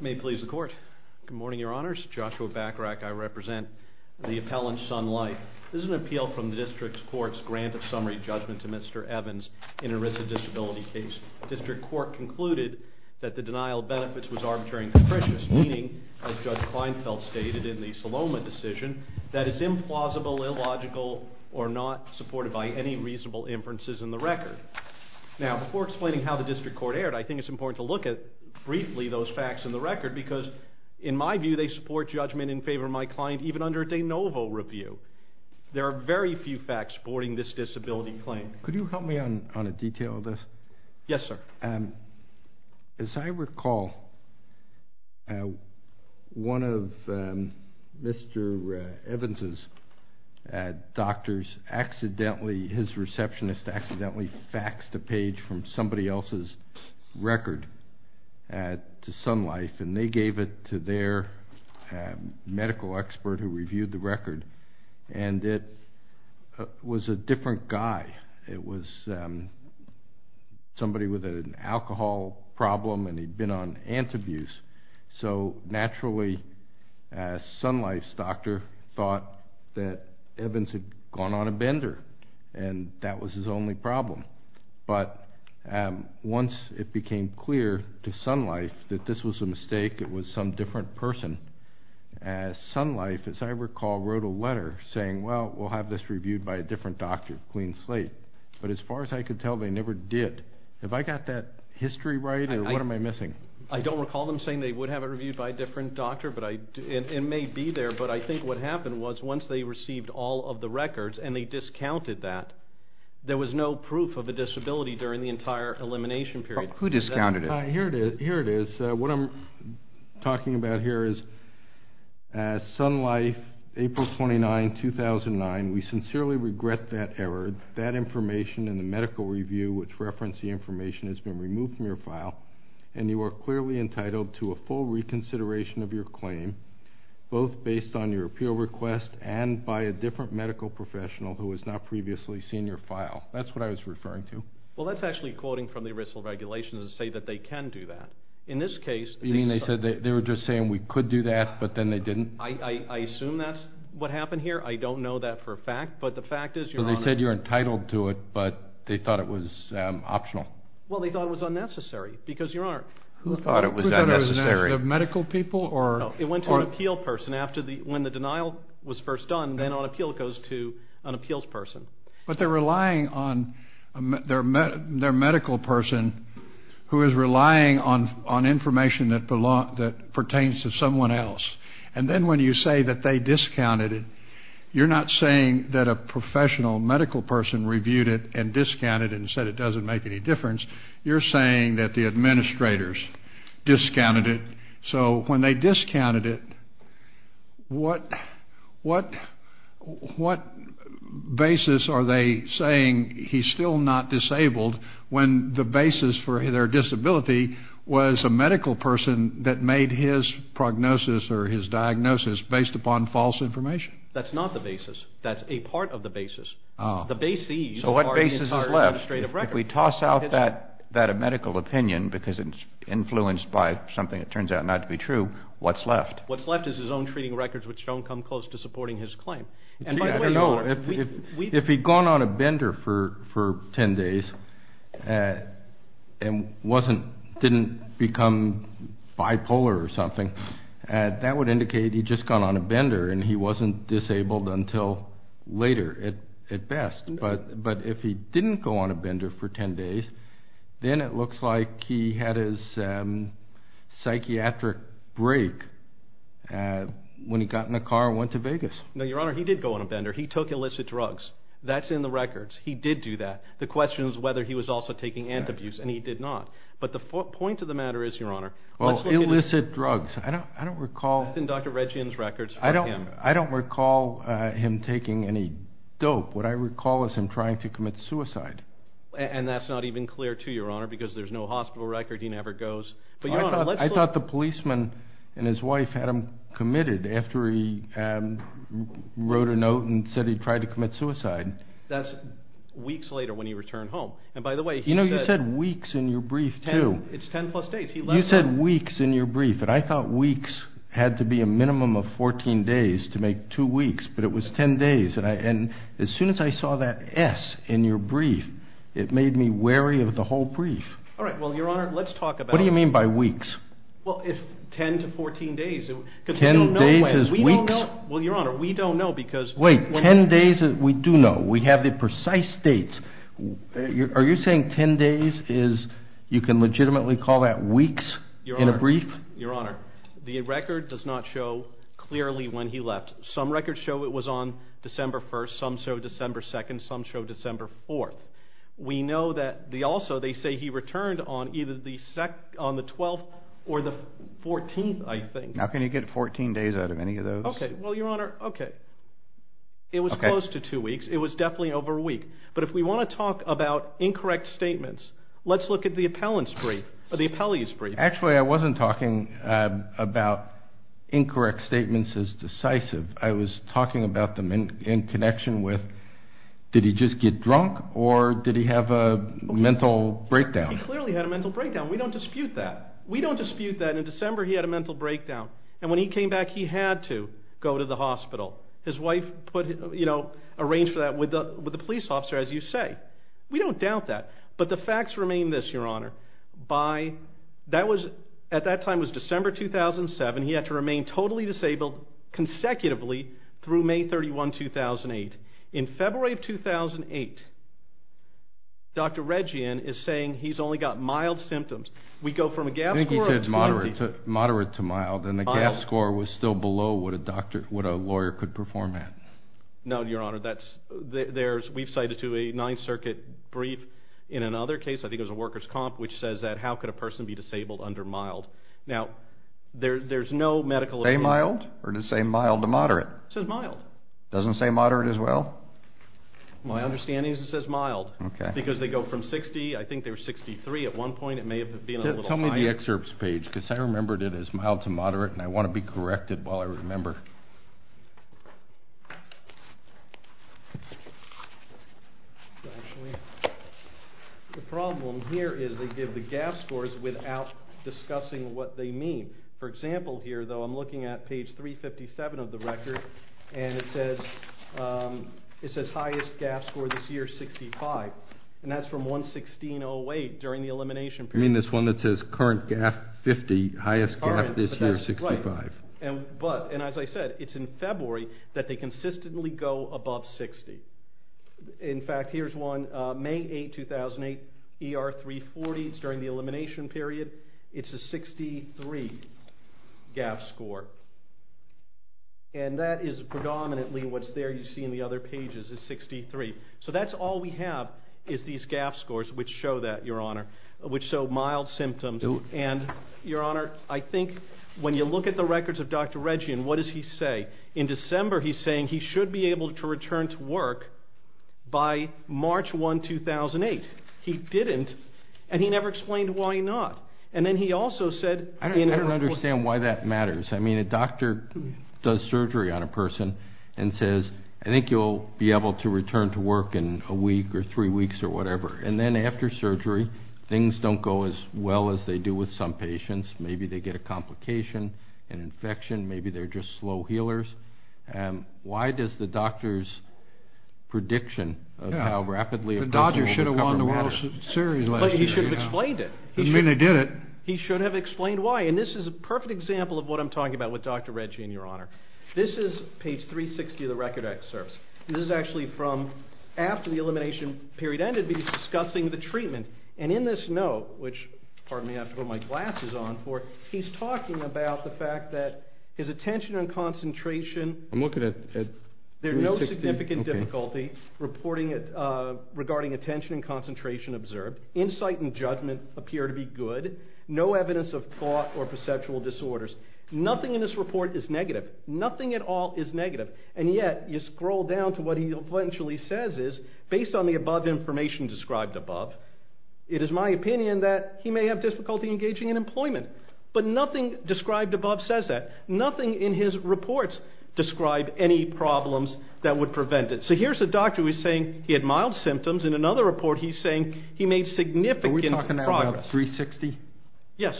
May it please the Court. Good morning, Your Honors. Joshua Bacharach. I represent the appellant Sun Life. This is an appeal from the District Court's grant of summary judgment to Mr. Evans in a risk of disability case. The District Court concluded that the denial of benefits was arbitrary and capricious, meaning, as Judge Kleinfeld stated in the Saloma decision, that it is implausible, illogical, or not supported by any reasonable inferences in the record. Now, before explaining how the District Court erred, I think it's important to look at, briefly, those facts in the record, because, in my view, they support judgment in favor of my client even under a de novo review. There are very few facts supporting this disability claim. Could you help me on a detail of this? Yes, sir. As I recall, one of Mr. Evans' doctors accidentally, his receptionist accidentally, faxed a page from somebody else's record to Sun Life, and they gave it to their medical expert who reviewed the record, and it was a different guy. It was somebody with an alcohol problem, and he'd been on antabuse. So, naturally, Sun Life's doctor thought that Evans had gone on a bender, and that was his only problem. But once it became clear to Sun Life that this was a mistake, it was some different person, Sun Life, as I recall, wrote a letter saying, well, we'll have this reviewed by a different doctor, Clean Slate. But as far as I could tell, they never did. Have I got that history right, or what am I missing? I don't recall them saying they would have it reviewed by a different doctor. It may be there, but I think what happened was, once they received all of the records and they discounted that, there was no proof of a disability during the entire elimination period. Who discounted it? Here it is. What I'm talking about here is, as Sun Life, April 29, 2009, we sincerely regret that error. That information in the medical review which referenced the information has been removed from your file, and you are clearly entitled to a full reconsideration of your claim, both based on your appeal request and by a different medical professional who has not previously seen your file. That's what I was referring to. Well, that's actually quoting from the ERISL regulations to say that they can do that. In this case, they said they were just saying we could do that, but then they didn't. I assume that's what happened here. I don't know that for a fact, but the fact is, Your Honor. So they said you're entitled to it, but they thought it was optional. Well, they thought it was unnecessary because, Your Honor. Who thought it was unnecessary? The medical people? No, it went to an appeal person. When the denial was first done, then on appeal it goes to an appeals person. But they're relying on their medical person who is relying on information that pertains to someone else. And then when you say that they discounted it, you're not saying that a professional medical person reviewed it and discounted it and said it doesn't make any difference. You're saying that the administrators discounted it. So when they discounted it, what basis are they saying he's still not disabled when the basis for their disability was a medical person that made his prognosis or his diagnosis based upon false information? That's not the basis. That's a part of the basis. The basees are the entire administrative record. So what basis is left? If we toss out that medical opinion because it's influenced by something that turns out not to be true, what's left? What's left is his own treating records which don't come close to supporting his claim. I don't know. If he'd gone on a bender for 10 days and didn't become bipolar or something, that would indicate he'd just gone on a bender and he wasn't disabled until later at best. But if he didn't go on a bender for 10 days, then it looks like he had his psychiatric break when he got in a car and went to Vegas. No, Your Honor. He did go on a bender. He took illicit drugs. That's in the records. He did do that. The question is whether he was also taking antabuse, and he did not. But the point of the matter is, Your Honor, let's look at illicit drugs. I don't recall. That's in Dr. Regian's records. I don't recall him taking any dope. What I recall is him trying to commit suicide. And that's not even clear, too, Your Honor, because there's no hospital record. He never goes. I thought the policeman and his wife had him committed after he wrote a note and said he tried to commit suicide. That's weeks later when he returned home. And, by the way, he said weeks in your brief, too. It's 10-plus days. You said weeks in your brief, and I thought weeks had to be a minimum of 14 days to make two weeks, but it was 10 days. And as soon as I saw that S in your brief, it made me wary of the whole brief. All right. Well, Your Honor, let's talk about it. What do you mean by weeks? Well, if 10 to 14 days, because we don't know when. Ten days is weeks? Well, Your Honor, we don't know because we're not. Wait. Ten days we do know. We have the precise dates. Are you saying 10 days is you can legitimately call that weeks in a brief? Your Honor, Your Honor, the record does not show clearly when he left. Some records show it was on December 1st. Some show December 2nd. Some show December 4th. We know that also they say he returned on either the 12th or the 14th, I think. How can you get 14 days out of any of those? Okay. Well, Your Honor, okay. It was close to two weeks. It was definitely over a week. But if we want to talk about incorrect statements, let's look at the appellee's brief. Actually, I wasn't talking about incorrect statements as decisive. I was talking about them in connection with did he just get drunk or did he have a mental breakdown? He clearly had a mental breakdown. We don't dispute that. We don't dispute that. In December, he had a mental breakdown. And when he came back, he had to go to the hospital. His wife arranged for that with the police officer, as you say. We don't doubt that. But the facts remain this, Your Honor. At that time, it was December 2007. He had to remain totally disabled consecutively through May 31, 2008. In February of 2008, Dr. Regian is saying he's only got mild symptoms. We go from a GAF score of 20. I think he said moderate to mild. And the GAF score was still below what a lawyer could perform at. No, Your Honor. We've cited to a Ninth Circuit brief. In another case, I think it was a worker's comp, which says that how could a person be disabled under mild? Now, there's no medical opinion. Say mild or to say mild to moderate? It says mild. It doesn't say moderate as well? My understanding is it says mild. Okay. Because they go from 60. I think they were 63 at one point. It may have been a little higher. Go to the excerpts page because I remembered it as mild to moderate, and I want to be corrected while I remember. The problem here is they give the GAF scores without discussing what they mean. For example here, though, I'm looking at page 357 of the record, and it says highest GAF score this year, 65. And that's from 116.08 during the elimination period. You mean this one that says current GAF 50, highest GAF this year, 65. Right. And as I said, it's in February that they consistently go above 60. In fact, here's one, May 8, 2008, ER 340. It's during the elimination period. It's a 63 GAF score. And that is predominantly what's there you see in the other pages is 63. So that's all we have is these GAF scores which show that, Your Honor, which show mild symptoms. And, Your Honor, I think when you look at the records of Dr. Regian, what does he say? In December he's saying he should be able to return to work by March 1, 2008. He didn't, and he never explained why not. And then he also said in her report. I don't understand why that matters. I mean, a doctor does surgery on a person and says, I think you'll be able to return to work in a week or three weeks or whatever. And then after surgery, things don't go as well as they do with some patients. Maybe they get a complication, an infection. Maybe they're just slow healers. Why does the doctor's prediction of how rapidly a person will recover matter? The Dodgers should have won the World Series last year. But he should have explained it. I mean, they did it. He should have explained why. And this is a perfect example of what I'm talking about with Dr. Regian, Your Honor. This is page 360 of the record excerpts. This is actually from after the elimination period ended because he's discussing the treatment. And in this note, which, pardon me, I have to put my glasses on for, he's talking about the fact that his attention and concentration. I'm looking at page 360. There's no significant difficulty regarding attention and concentration observed. Insight and judgment appear to be good. No evidence of thought or perceptual disorders. Nothing in this report is negative. Nothing at all is negative. And yet, you scroll down to what he eventually says is, based on the above information described above, it is my opinion that he may have difficulty engaging in employment. But nothing described above says that. Nothing in his reports describe any problems that would prevent it. So here's a doctor who is saying he had mild symptoms. In another report, he's saying he made significant progress. Page 360? Yes.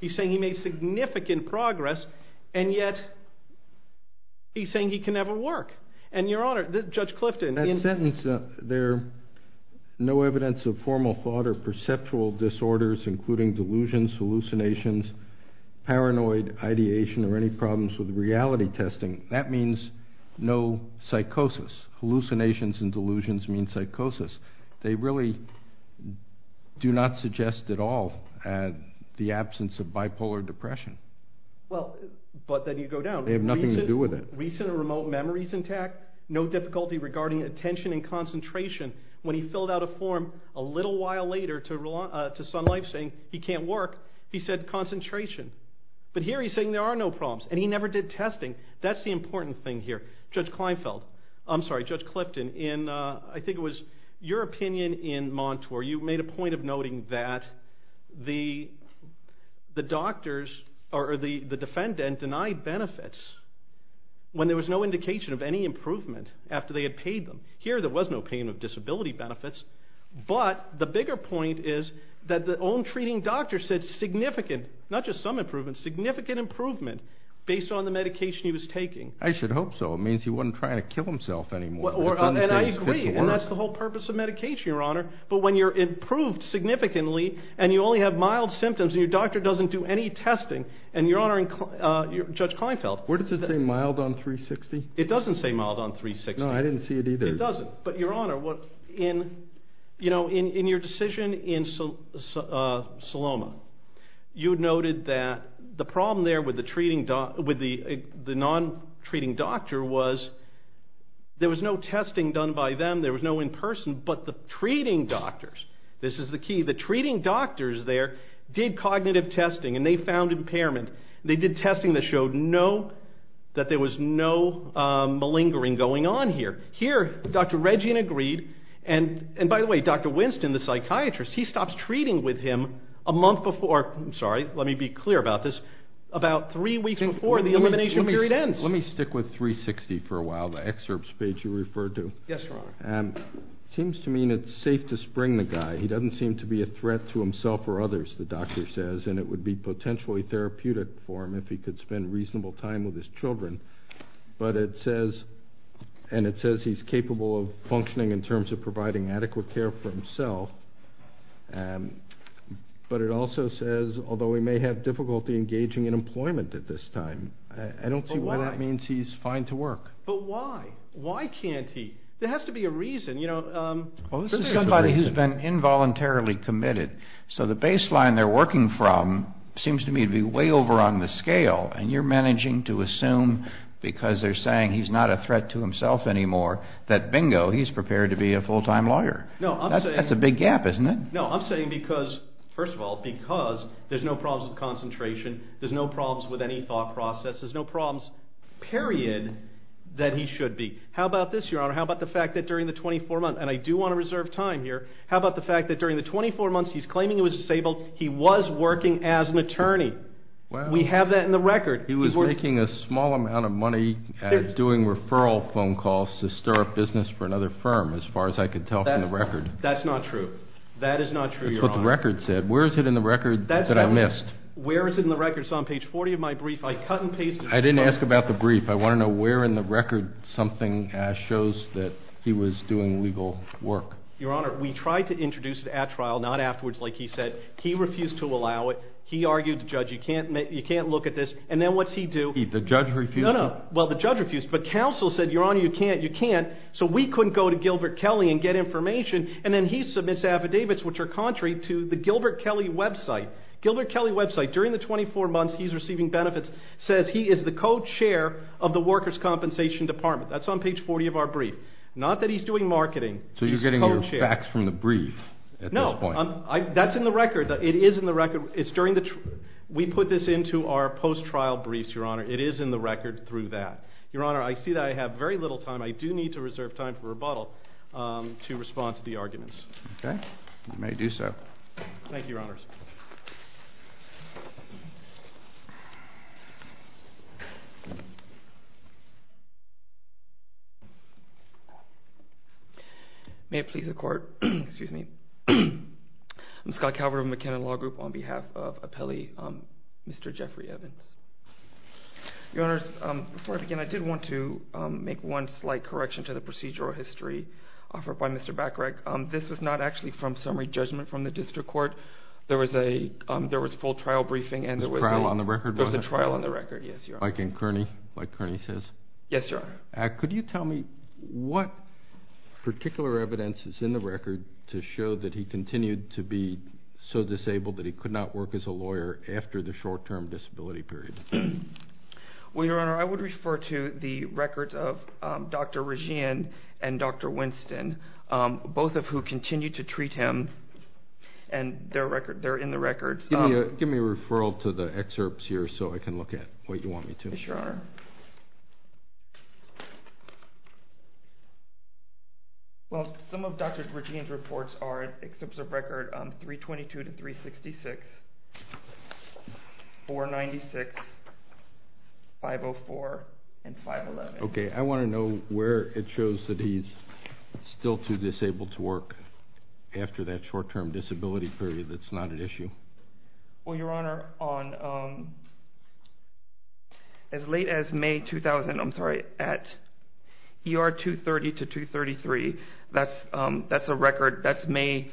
He's saying he made significant progress, and yet he's saying he can never work. And, Your Honor, Judge Clifton. That sentence there, no evidence of formal thought or perceptual disorders, including delusions, hallucinations, paranoid ideation, or any problems with reality testing, that means no psychosis. Hallucinations and delusions mean psychosis. They really do not suggest at all the absence of bipolar depression. Well, but then you go down. They have nothing to do with it. Recent or remote memories intact. No difficulty regarding attention and concentration. When he filled out a form a little while later to Sun Life saying he can't work, he said concentration. But here he's saying there are no problems, and he never did testing. That's the important thing here. Judge Clifton, I think it was your opinion in Montour. You made a point of noting that the doctors or the defendant denied benefits when there was no indication of any improvement after they had paid them. Here there was no payment of disability benefits. But the bigger point is that the own treating doctor said significant, not just some improvement, significant improvement based on the medication he was taking. I should hope so. It means he wasn't trying to kill himself anymore. And I agree, and that's the whole purpose of medication, Your Honor. But when you're improved significantly and you only have mild symptoms and your doctor doesn't do any testing, and Your Honor, Judge Kleinfeld. Where does it say mild on 360? It doesn't say mild on 360. No, I didn't see it either. It doesn't. But Your Honor, in your decision in Saloma, you noted that the problem there with the non-treating doctor was there was no testing done by them, there was no in-person, but the treating doctors, this is the key, the treating doctors there did cognitive testing and they found impairment. They did testing that showed no, that there was no malingering going on here. Here Dr. Regin agreed, and by the way, Dr. Winston, the psychiatrist, he stops treating with him a month before, I'm sorry, let me be clear about this, about three weeks before the elimination period ends. Let me stick with 360 for a while, the excerpts page you referred to. Yes, Your Honor. It seems to me it's safe to spring the guy. He doesn't seem to be a threat to himself or others, the doctor says, and it would be potentially therapeutic for him if he could spend reasonable time with his children. But it says he's capable of functioning in terms of providing adequate care for himself. But it also says, although he may have difficulty engaging in employment at this time, I don't see why that means he's fine to work. But why? Why can't he? There has to be a reason. Well, this is somebody who's been involuntarily committed, so the baseline they're working from seems to me to be way over on the scale, and you're managing to assume because they're saying he's not a threat to himself anymore that bingo, he's prepared to be a full-time lawyer. That's a big gap, isn't it? No, I'm saying because, first of all, because there's no problems with concentration, there's no problems with any thought processes, no problems, period, that he should be. How about this, Your Honor? How about the fact that during the 24 months, and I do want to reserve time here, how about the fact that during the 24 months he's claiming he was disabled, he was working as an attorney? We have that in the record. He was making a small amount of money doing referral phone calls to stir up business for another firm, as far as I could tell from the record. That's not true. That is not true, Your Honor. That's what the record said. Where is it in the record that I missed? Where is it in the record? It's on page 40 of my brief. I cut and pasted it. I didn't ask about the brief. I want to know where in the record something shows that he was doing legal work. Your Honor, we tried to introduce it at trial, not afterwards like he said. He refused to allow it. He argued, Judge, you can't look at this. And then what's he do? The judge refused to. Well, the judge refused, but counsel said, Your Honor, you can't, you can't. So we couldn't go to Gilbert Kelley and get information, and then he submits affidavits which are contrary to the Gilbert Kelley website. Gilbert Kelley website, during the 24 months he's receiving benefits, says he is the co-chair of the Workers' Compensation Department. That's on page 40 of our brief. Not that he's doing marketing. So you're getting your facts from the brief at this point. No, that's in the record. It is in the record. We put this into our post-trial briefs, Your Honor. It is in the record through that. Your Honor, I see that I have very little time. I do need to reserve time for rebuttal to respond to the arguments. Okay. You may do so. Thank you, Your Honors. May it please the Court. Excuse me. I'm Scott Calvert of McKinnon Law Group on behalf of appellee Mr. Jeffrey Evans. Your Honors, before I begin, I did want to make one slight correction to the procedural history offered by Mr. Bacharach. This was not actually from summary judgment from the district court. There was a full trial briefing, and there was a trial on the record. There was a trial on the record, yes, Your Honor. Like in Kearney, like Kearney says? Yes, Your Honor. Could you tell me what particular evidence is in the record to show that he continued to be so disabled that he could not work as a lawyer after the short-term disability period? Well, Your Honor, I would refer to the records of Dr. Regin and Dr. Winston, both of who continued to treat him, and they're in the records. Give me a referral to the excerpts here so I can look at what you want me to. Yes, Your Honor. Well, some of Dr. Regin's reports are excerpts of record 322 to 366, 496, 504, and 511. Okay. I want to know where it shows that he's still too disabled to work after that short-term disability period that's not an issue. Well, Your Honor, as late as May 2000, I'm sorry, at ER 230 to 233, that's a record. That's May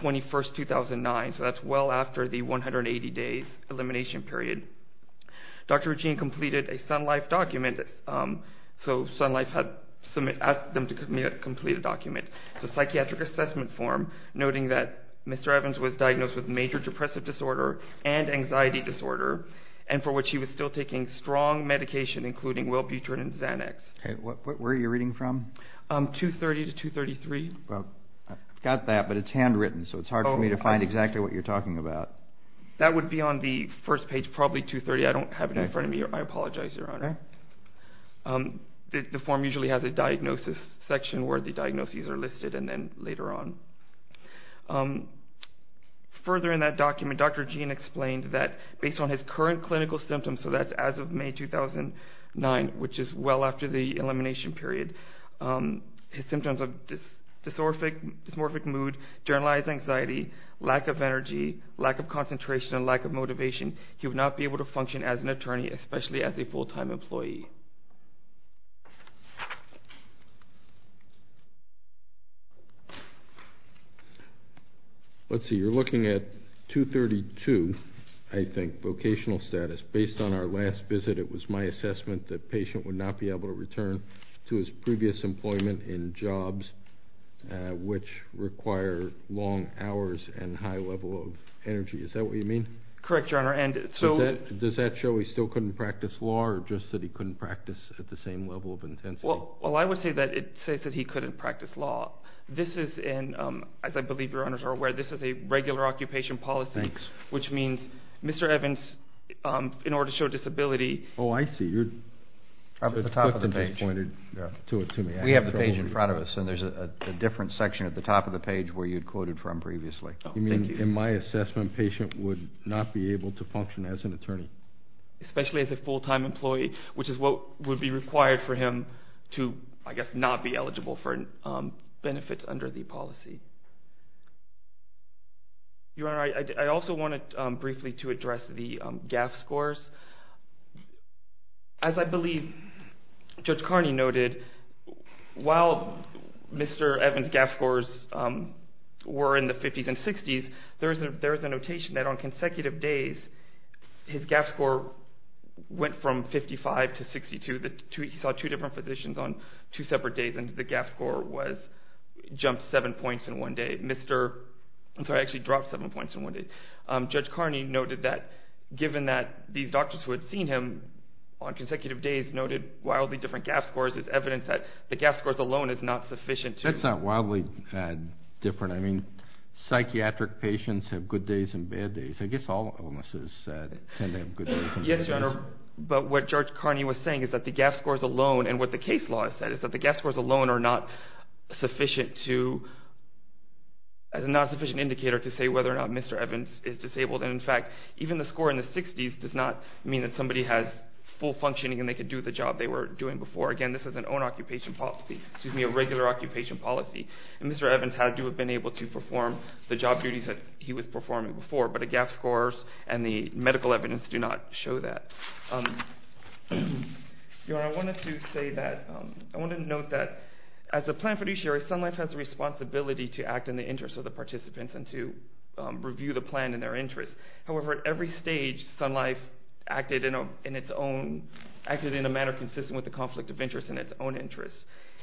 21, 2009, so that's well after the 180-day elimination period. Dr. Regin completed a Sun Life document. So Sun Life had asked them to complete a document. It's a psychiatric assessment form noting that Mr. Evans was diagnosed with major depressive disorder and anxiety disorder, and for which he was still taking strong medication, including Welbutrin and Xanax. Okay. Where are you reading from? 230 to 233. Well, I've got that, but it's handwritten, so it's hard for me to find exactly what you're talking about. That would be on the first page, probably 230. I don't have it in front of me. I apologize, Your Honor. The form usually has a diagnosis section where the diagnoses are listed and then later on. Further in that document, Dr. Regin explained that based on his current clinical symptoms, so that's as of May 2009, which is well after the elimination period, his symptoms are dysmorphic mood, generalized anxiety, lack of energy, lack of concentration, and lack of motivation. He would not be able to function as an attorney, especially as a full-time employee. Let's see. You're looking at 232, I think, vocational status. Based on our last visit, it was my assessment that the patient would not be able to return to his previous employment in jobs which require long hours and high level of energy. Is that what you mean? Correct, Your Honor. Does that show he still couldn't practice law or just that he couldn't practice at the same level of intensity? Well, I would say that it says that he couldn't practice law. This is, as I believe Your Honors are aware, this is a regular occupation policy, which means Mr. Evans, in order to show disability… Oh, I see. You're at the top of the page. We have the page in front of us, and there's a different section at the top of the page where you'd quoted from previously. Oh, thank you. In my assessment, the patient would not be able to function as an attorney. Especially as a full-time employee, which is what would be required for him to, I guess, not be eligible for benefits under the policy. Your Honor, I also wanted briefly to address the GAF scores. As I believe Judge Carney noted, while Mr. Evans' GAF scores were in the 50s and 60s, there is a notation that on consecutive days, his GAF score went from 55 to 62. He saw two different physicians on two separate days, and the GAF score jumped seven points in one day. I'm sorry, it actually dropped seven points in one day. Judge Carney noted that given that these doctors who had seen him on consecutive days noted wildly different GAF scores, it's evidence that the GAF scores alone is not sufficient to… That's not wildly different. I mean, psychiatric patients have good days and bad days. I guess all illnesses tend to have good days and bad days. Yes, Your Honor, but what Judge Carney was saying is that the GAF scores alone, and what the case law has said is that the GAF scores alone are not sufficient to… In fact, even the score in the 60s does not mean that somebody has full functioning and they can do the job they were doing before. Again, this is an own occupation policy, excuse me, a regular occupation policy, and Mr. Evans had to have been able to perform the job duties that he was performing before, but the GAF scores and the medical evidence do not show that. Your Honor, I wanted to note that as a planned fiduciary, Sun Life has a responsibility to act in the interest of the participants and to review the plan in their interest. However, at every stage, Sun Life acted in a manner consistent with the conflict of interest in its own interest.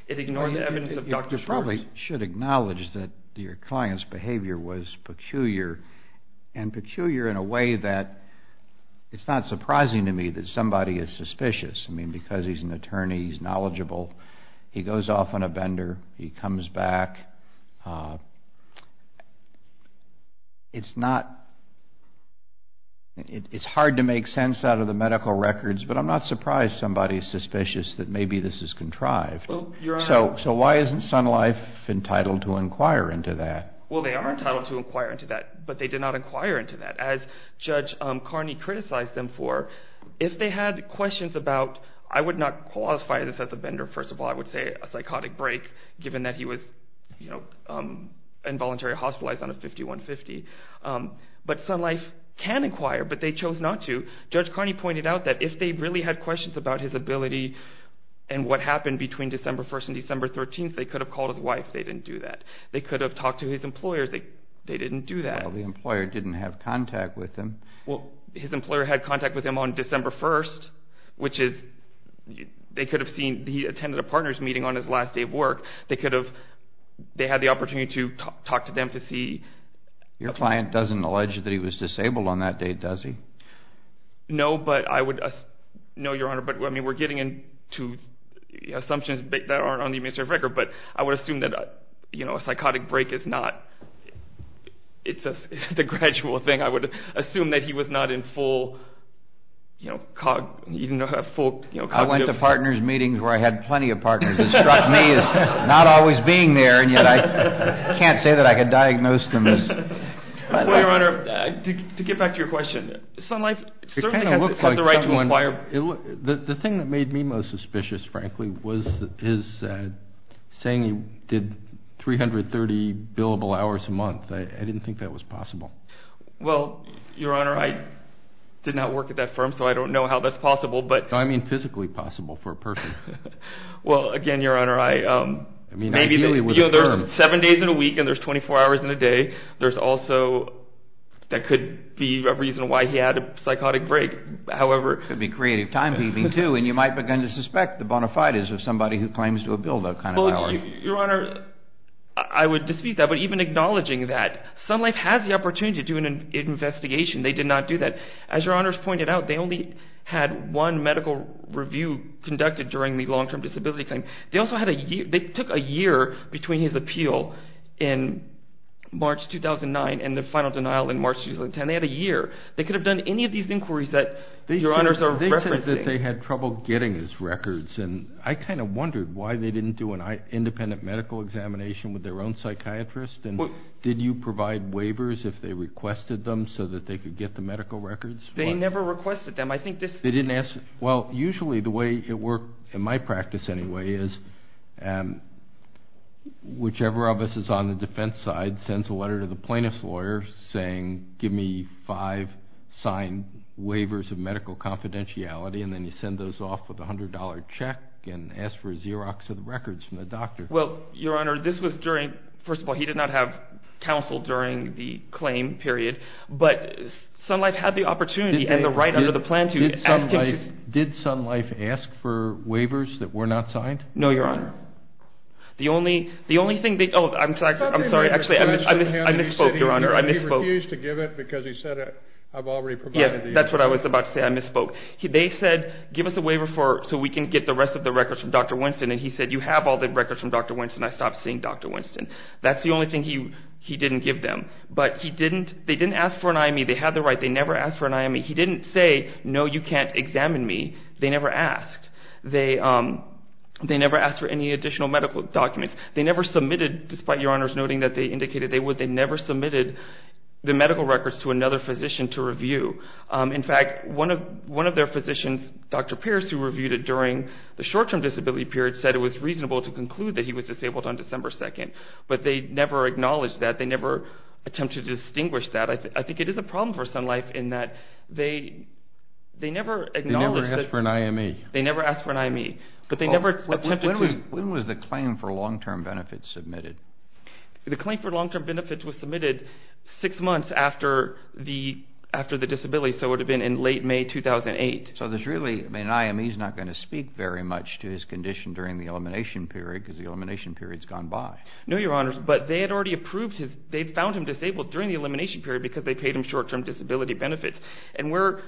It ignored the evidence of Dr. Schwartz. You probably should acknowledge that your client's behavior was peculiar, and peculiar in a way that it's not surprising to me that somebody is suspicious. I mean, because he's an attorney, he's knowledgeable, he goes off on a bender, he comes back. It's hard to make sense out of the medical records, but I'm not surprised somebody is suspicious that maybe this is contrived. So why isn't Sun Life entitled to inquire into that? Well, they are entitled to inquire into that, but they did not inquire into that. As Judge Carney criticized them for, if they had questions about, I would not classify this as a bender, first of all. I would say a psychotic break, given that he was involuntarily hospitalized on a 5150. But Sun Life can inquire, but they chose not to. Judge Carney pointed out that if they really had questions about his ability and what happened between December 1st and December 13th, they could have called his wife. They didn't do that. They could have talked to his employer. They didn't do that. Well, the employer didn't have contact with him. Well, his employer had contact with him on December 1st, which is they could have seen he attended a partner's meeting on his last day of work. They could have, they had the opportunity to talk to them to see. Your client doesn't allege that he was disabled on that day, does he? No, but I would, no, Your Honor. But, I mean, we're getting into assumptions that aren't on the administrative record, but I would assume that, you know, a psychotic break is not, it's a gradual thing. I would assume that he was not in full, you know, cognitive. I went to partner's meetings where I had plenty of partners. It struck me as not always being there, and yet I can't say that I could diagnose them as. Well, Your Honor, to get back to your question, Sun Life certainly has the right to inquire. The thing that made me most suspicious, frankly, I didn't think that was possible. Well, Your Honor, I did not work at that firm, so I don't know how that's possible, but. No, I mean physically possible for a person. Well, again, Your Honor, I. I mean, ideally with a firm. Maybe, you know, there's seven days in a week and there's 24 hours in a day. There's also, that could be a reason why he had a psychotic break. However. It could be creative time keeping, too, and you might begin to suspect the bona fides of somebody who claims to have built a kind of. Well, Your Honor, I would dispute that, but even acknowledging that. Sun Life has the opportunity to do an investigation. They did not do that. As Your Honors pointed out, they only had one medical review conducted during the long-term disability claim. They also had a year. They took a year between his appeal in March 2009 and the final denial in March 2010. They had a year. They could have done any of these inquiries that Your Honors are referencing. They said that they had trouble getting his records, and I kind of wondered why they didn't do an independent medical examination with their own psychiatrist. Did you provide waivers if they requested them so that they could get the medical records? They never requested them. I think this. They didn't ask. Well, usually the way it worked, in my practice anyway, is whichever of us is on the defense side sends a letter to the plaintiff's lawyer saying, give me five signed waivers of medical confidentiality, and then you send those off with a $100 check and ask for a Xerox of the records from the doctor. Well, Your Honor, this was during. First of all, he did not have counsel during the claim period, but Sun Life had the opportunity and the right under the plaintiff. Did Sun Life ask for waivers that were not signed? No, Your Honor. The only thing they... Oh, I'm sorry. Actually, I misspoke, Your Honor. He refused to give it because he said, I've already provided the Xerox. Yes, that's what I was about to say. I misspoke. They said, give us a waiver so we can get the rest of the records from Dr. Winston, and he said, you have all the records from Dr. Winston. I stopped seeing Dr. Winston. That's the only thing he didn't give them, but he didn't... They didn't ask for an IME. They had the right. They never asked for an IME. He didn't say, no, you can't examine me. They never asked. They never asked for any additional medical documents. They never submitted, despite Your Honor's noting that they indicated they would, they never submitted the medical records to another physician to review. In fact, one of their physicians, Dr. Pierce, who reviewed it during the short-term disability period, said it was reasonable to conclude that he was disabled on December 2nd. But they never acknowledged that. They never attempted to distinguish that. I think it is a problem for Sun Life in that they never acknowledged that... They never asked for an IME. They never asked for an IME, but they never attempted to... When was the claim for long-term benefits submitted? The claim for long-term benefits was submitted six months after the disability, so it would have been in late May 2008. So there's really... I mean, an IME is not going to speak very much to his condition during the elimination period because the elimination period has gone by. No, Your Honor, but they had already approved his... they found him disabled during the elimination period because they paid him short-term disability benefits. And we're...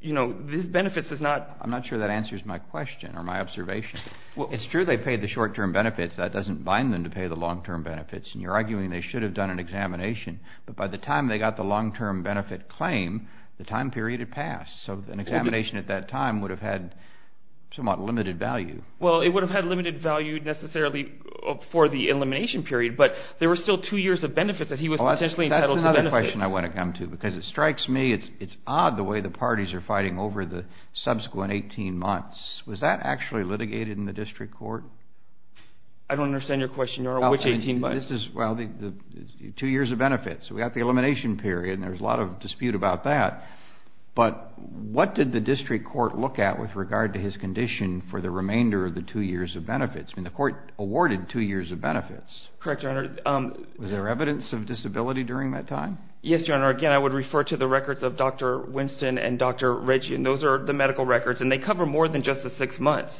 you know, these benefits is not... I'm not sure that answers my question or my observation. It's true they paid the short-term benefits. That doesn't bind them to pay the long-term benefits. And you're arguing they should have done an examination. But by the time they got the long-term benefit claim, the time period had passed. So an examination at that time would have had somewhat limited value. Well, it would have had limited value necessarily for the elimination period. But there were still two years of benefits that he was potentially entitled to benefits. That's another question I want to come to because it strikes me it's odd the way the parties are fighting over the subsequent 18 months. Was that actually litigated in the district court? I don't understand your question, Your Honor. Which 18 months? Well, the two years of benefits. We got the elimination period, and there's a lot of dispute about that. But what did the district court look at with regard to his condition for the remainder of the two years of benefits? I mean, the court awarded two years of benefits. Correct, Your Honor. Was there evidence of disability during that time? Yes, Your Honor. Again, I would refer to the records of Dr. Winston and Dr. Reggie, and those are the medical records. And they cover more than just the six months.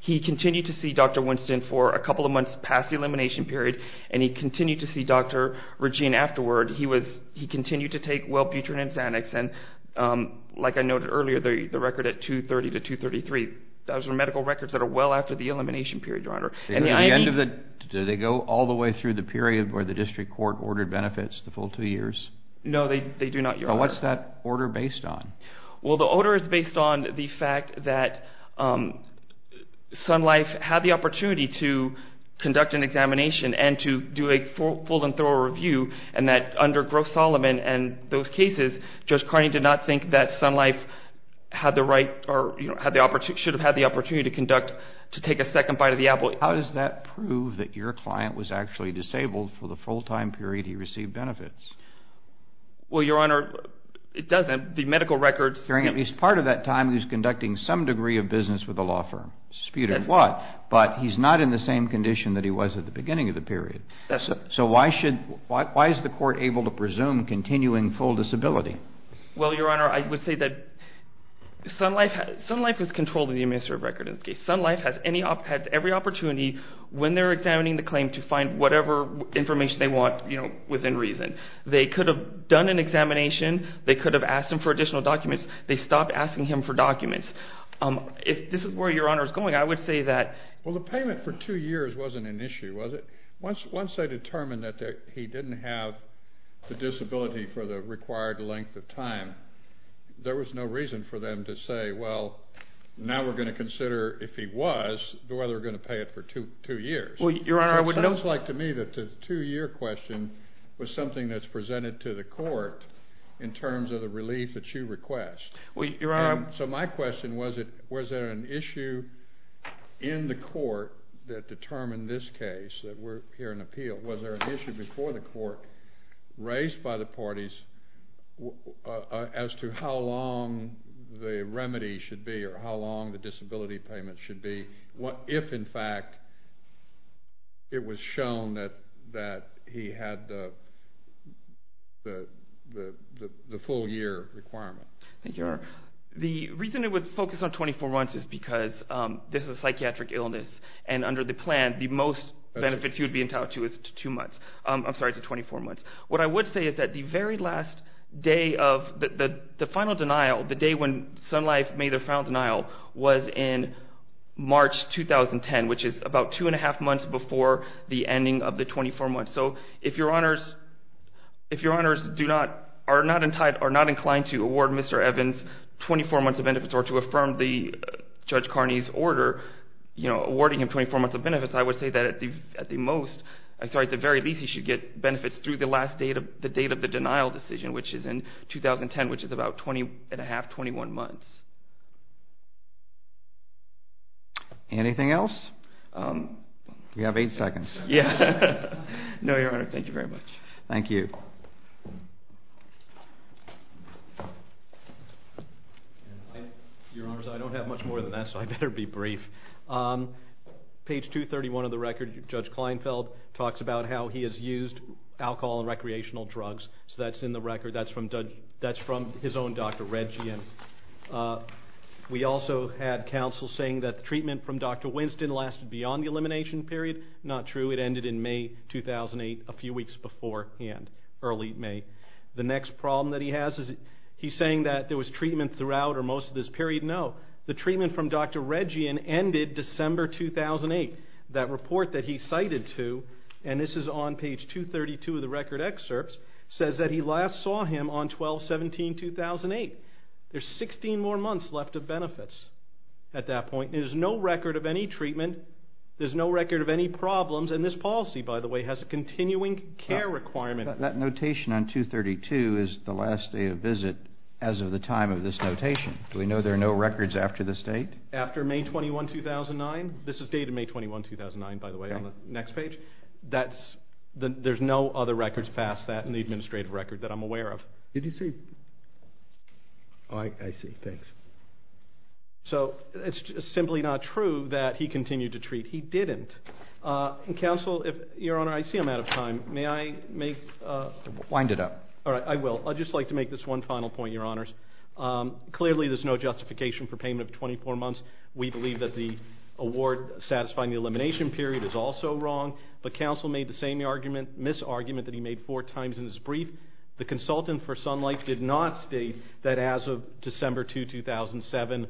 He continued to see Dr. Winston for a couple of months past the elimination period, and he continued to see Dr. Regine afterward. He continued to take Wellbutrin and Xanax, and like I noted earlier, the record at 230 to 233, those are medical records that are well after the elimination period, Your Honor. Do they go all the way through the period where the district court ordered benefits the full two years? No, they do not, Your Honor. What's that order based on? Well, the order is based on the fact that Sun Life had the opportunity to conduct an examination and to do a full and thorough review, and that under Gross-Solomon and those cases, Judge Carney did not think that Sun Life had the right or should have had the opportunity to conduct, to take a second bite of the apple. How does that prove that your client was actually disabled for the full-time period he received benefits? Well, Your Honor, it doesn't. The medical records... During at least part of that time, he was conducting some degree of business with a law firm, disputed what, but he's not in the same condition that he was at the beginning of the period. So why is the court able to presume continuing full disability? Well, Your Honor, I would say that Sun Life is controlling the administrative record in this case. Sun Life has every opportunity when they're examining the claim to find whatever information they want within reason. They could have done an examination. They could have asked him for additional documents. They stopped asking him for documents. If this is where Your Honor is going, I would say that... Well, the payment for two years wasn't an issue, was it? Once they determined that he didn't have the disability for the required length of time, there was no reason for them to say, well, now we're going to consider if he was, whether we're going to pay it for two years. Well, Your Honor, I would note... It sounds like to me that the two-year question was something that's presented to the court in terms of the relief that you request. Well, Your Honor... So my question was, was there an issue in the court that determined this case that we're here in appeal? Was there an issue before the court raised by the parties as to how long the remedy should be or how long the disability payment should be if, in fact, it was shown that he had the full-year requirement? Thank you, Your Honor. The reason it would focus on 24 months is because this is a psychiatric illness, and under the plan the most benefits he would be entitled to is to 24 months. What I would say is that the very last day of the final denial, the day when Sun Life made their final denial, was in March 2010, which is about two and a half months before the ending of the 24 months. So if Your Honors are not inclined to award Mr. Evans 24 months of benefits or to affirm Judge Carney's order awarding him 24 months of benefits, I would say that at the very least he should get benefits through the last date of the denial decision, which is in 2010, which is about 20 and a half, 21 months. Anything else? You have eight seconds. Yes. No, Your Honor. Thank you very much. Thank you. Your Honors, I don't have much more than that, so I better be brief. Page 231 of the record, Judge Kleinfeld talks about how he has used alcohol and recreational drugs. So that's in the record. That's from his own Dr. Redgian. We also had counsel saying that the treatment from Dr. Winston lasted beyond the elimination period. Not true. It ended in May 2008, a few weeks beforehand, early May. The next problem that he has is he's saying that there was treatment throughout or most of this period. No. The treatment from Dr. Redgian ended December 2008. That report that he cited to, and this is on page 232 of the record excerpts, says that he last saw him on 12-17-2008. There's 16 more months left of benefits at that point. There's no record of any treatment. There's no record of any problems, and this policy, by the way, has a continuing care requirement. That notation on 232 is the last day of visit as of the time of this notation. Do we know there are no records after this date? After May 21, 2009. This is dated May 21, 2009, by the way, on the next page. There's no other records past that in the administrative record that I'm aware of. Did you see? Oh, I see. Thanks. So it's simply not true that he continued to treat. He didn't. Counsel, Your Honor, I see I'm out of time. May I make? Wind it up. All right, I will. I'd just like to make this one final point, Your Honors. Clearly, there's no justification for payment of 24 months. We believe that the award satisfying the elimination period is also wrong, but counsel made the same misargument that he made four times in his brief. The consultant for Sunlight did not state that as of December 2, 2007,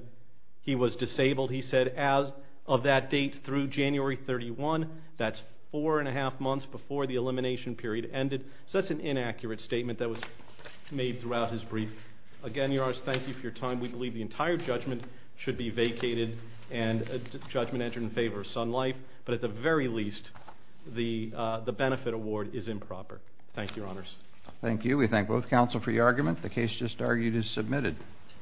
he was disabled. He said, as of that date through January 31, that's four and a half months before the elimination period ended. So that's an inaccurate statement that was made throughout his brief. Again, Your Honors, thank you for your time. We believe the entire judgment should be vacated and a judgment entered in favor of Sunlight, but at the very least, the benefit award is improper. Thank you, Your Honors. Thank you. We thank both counsel for your argument. The case just argued is submitted.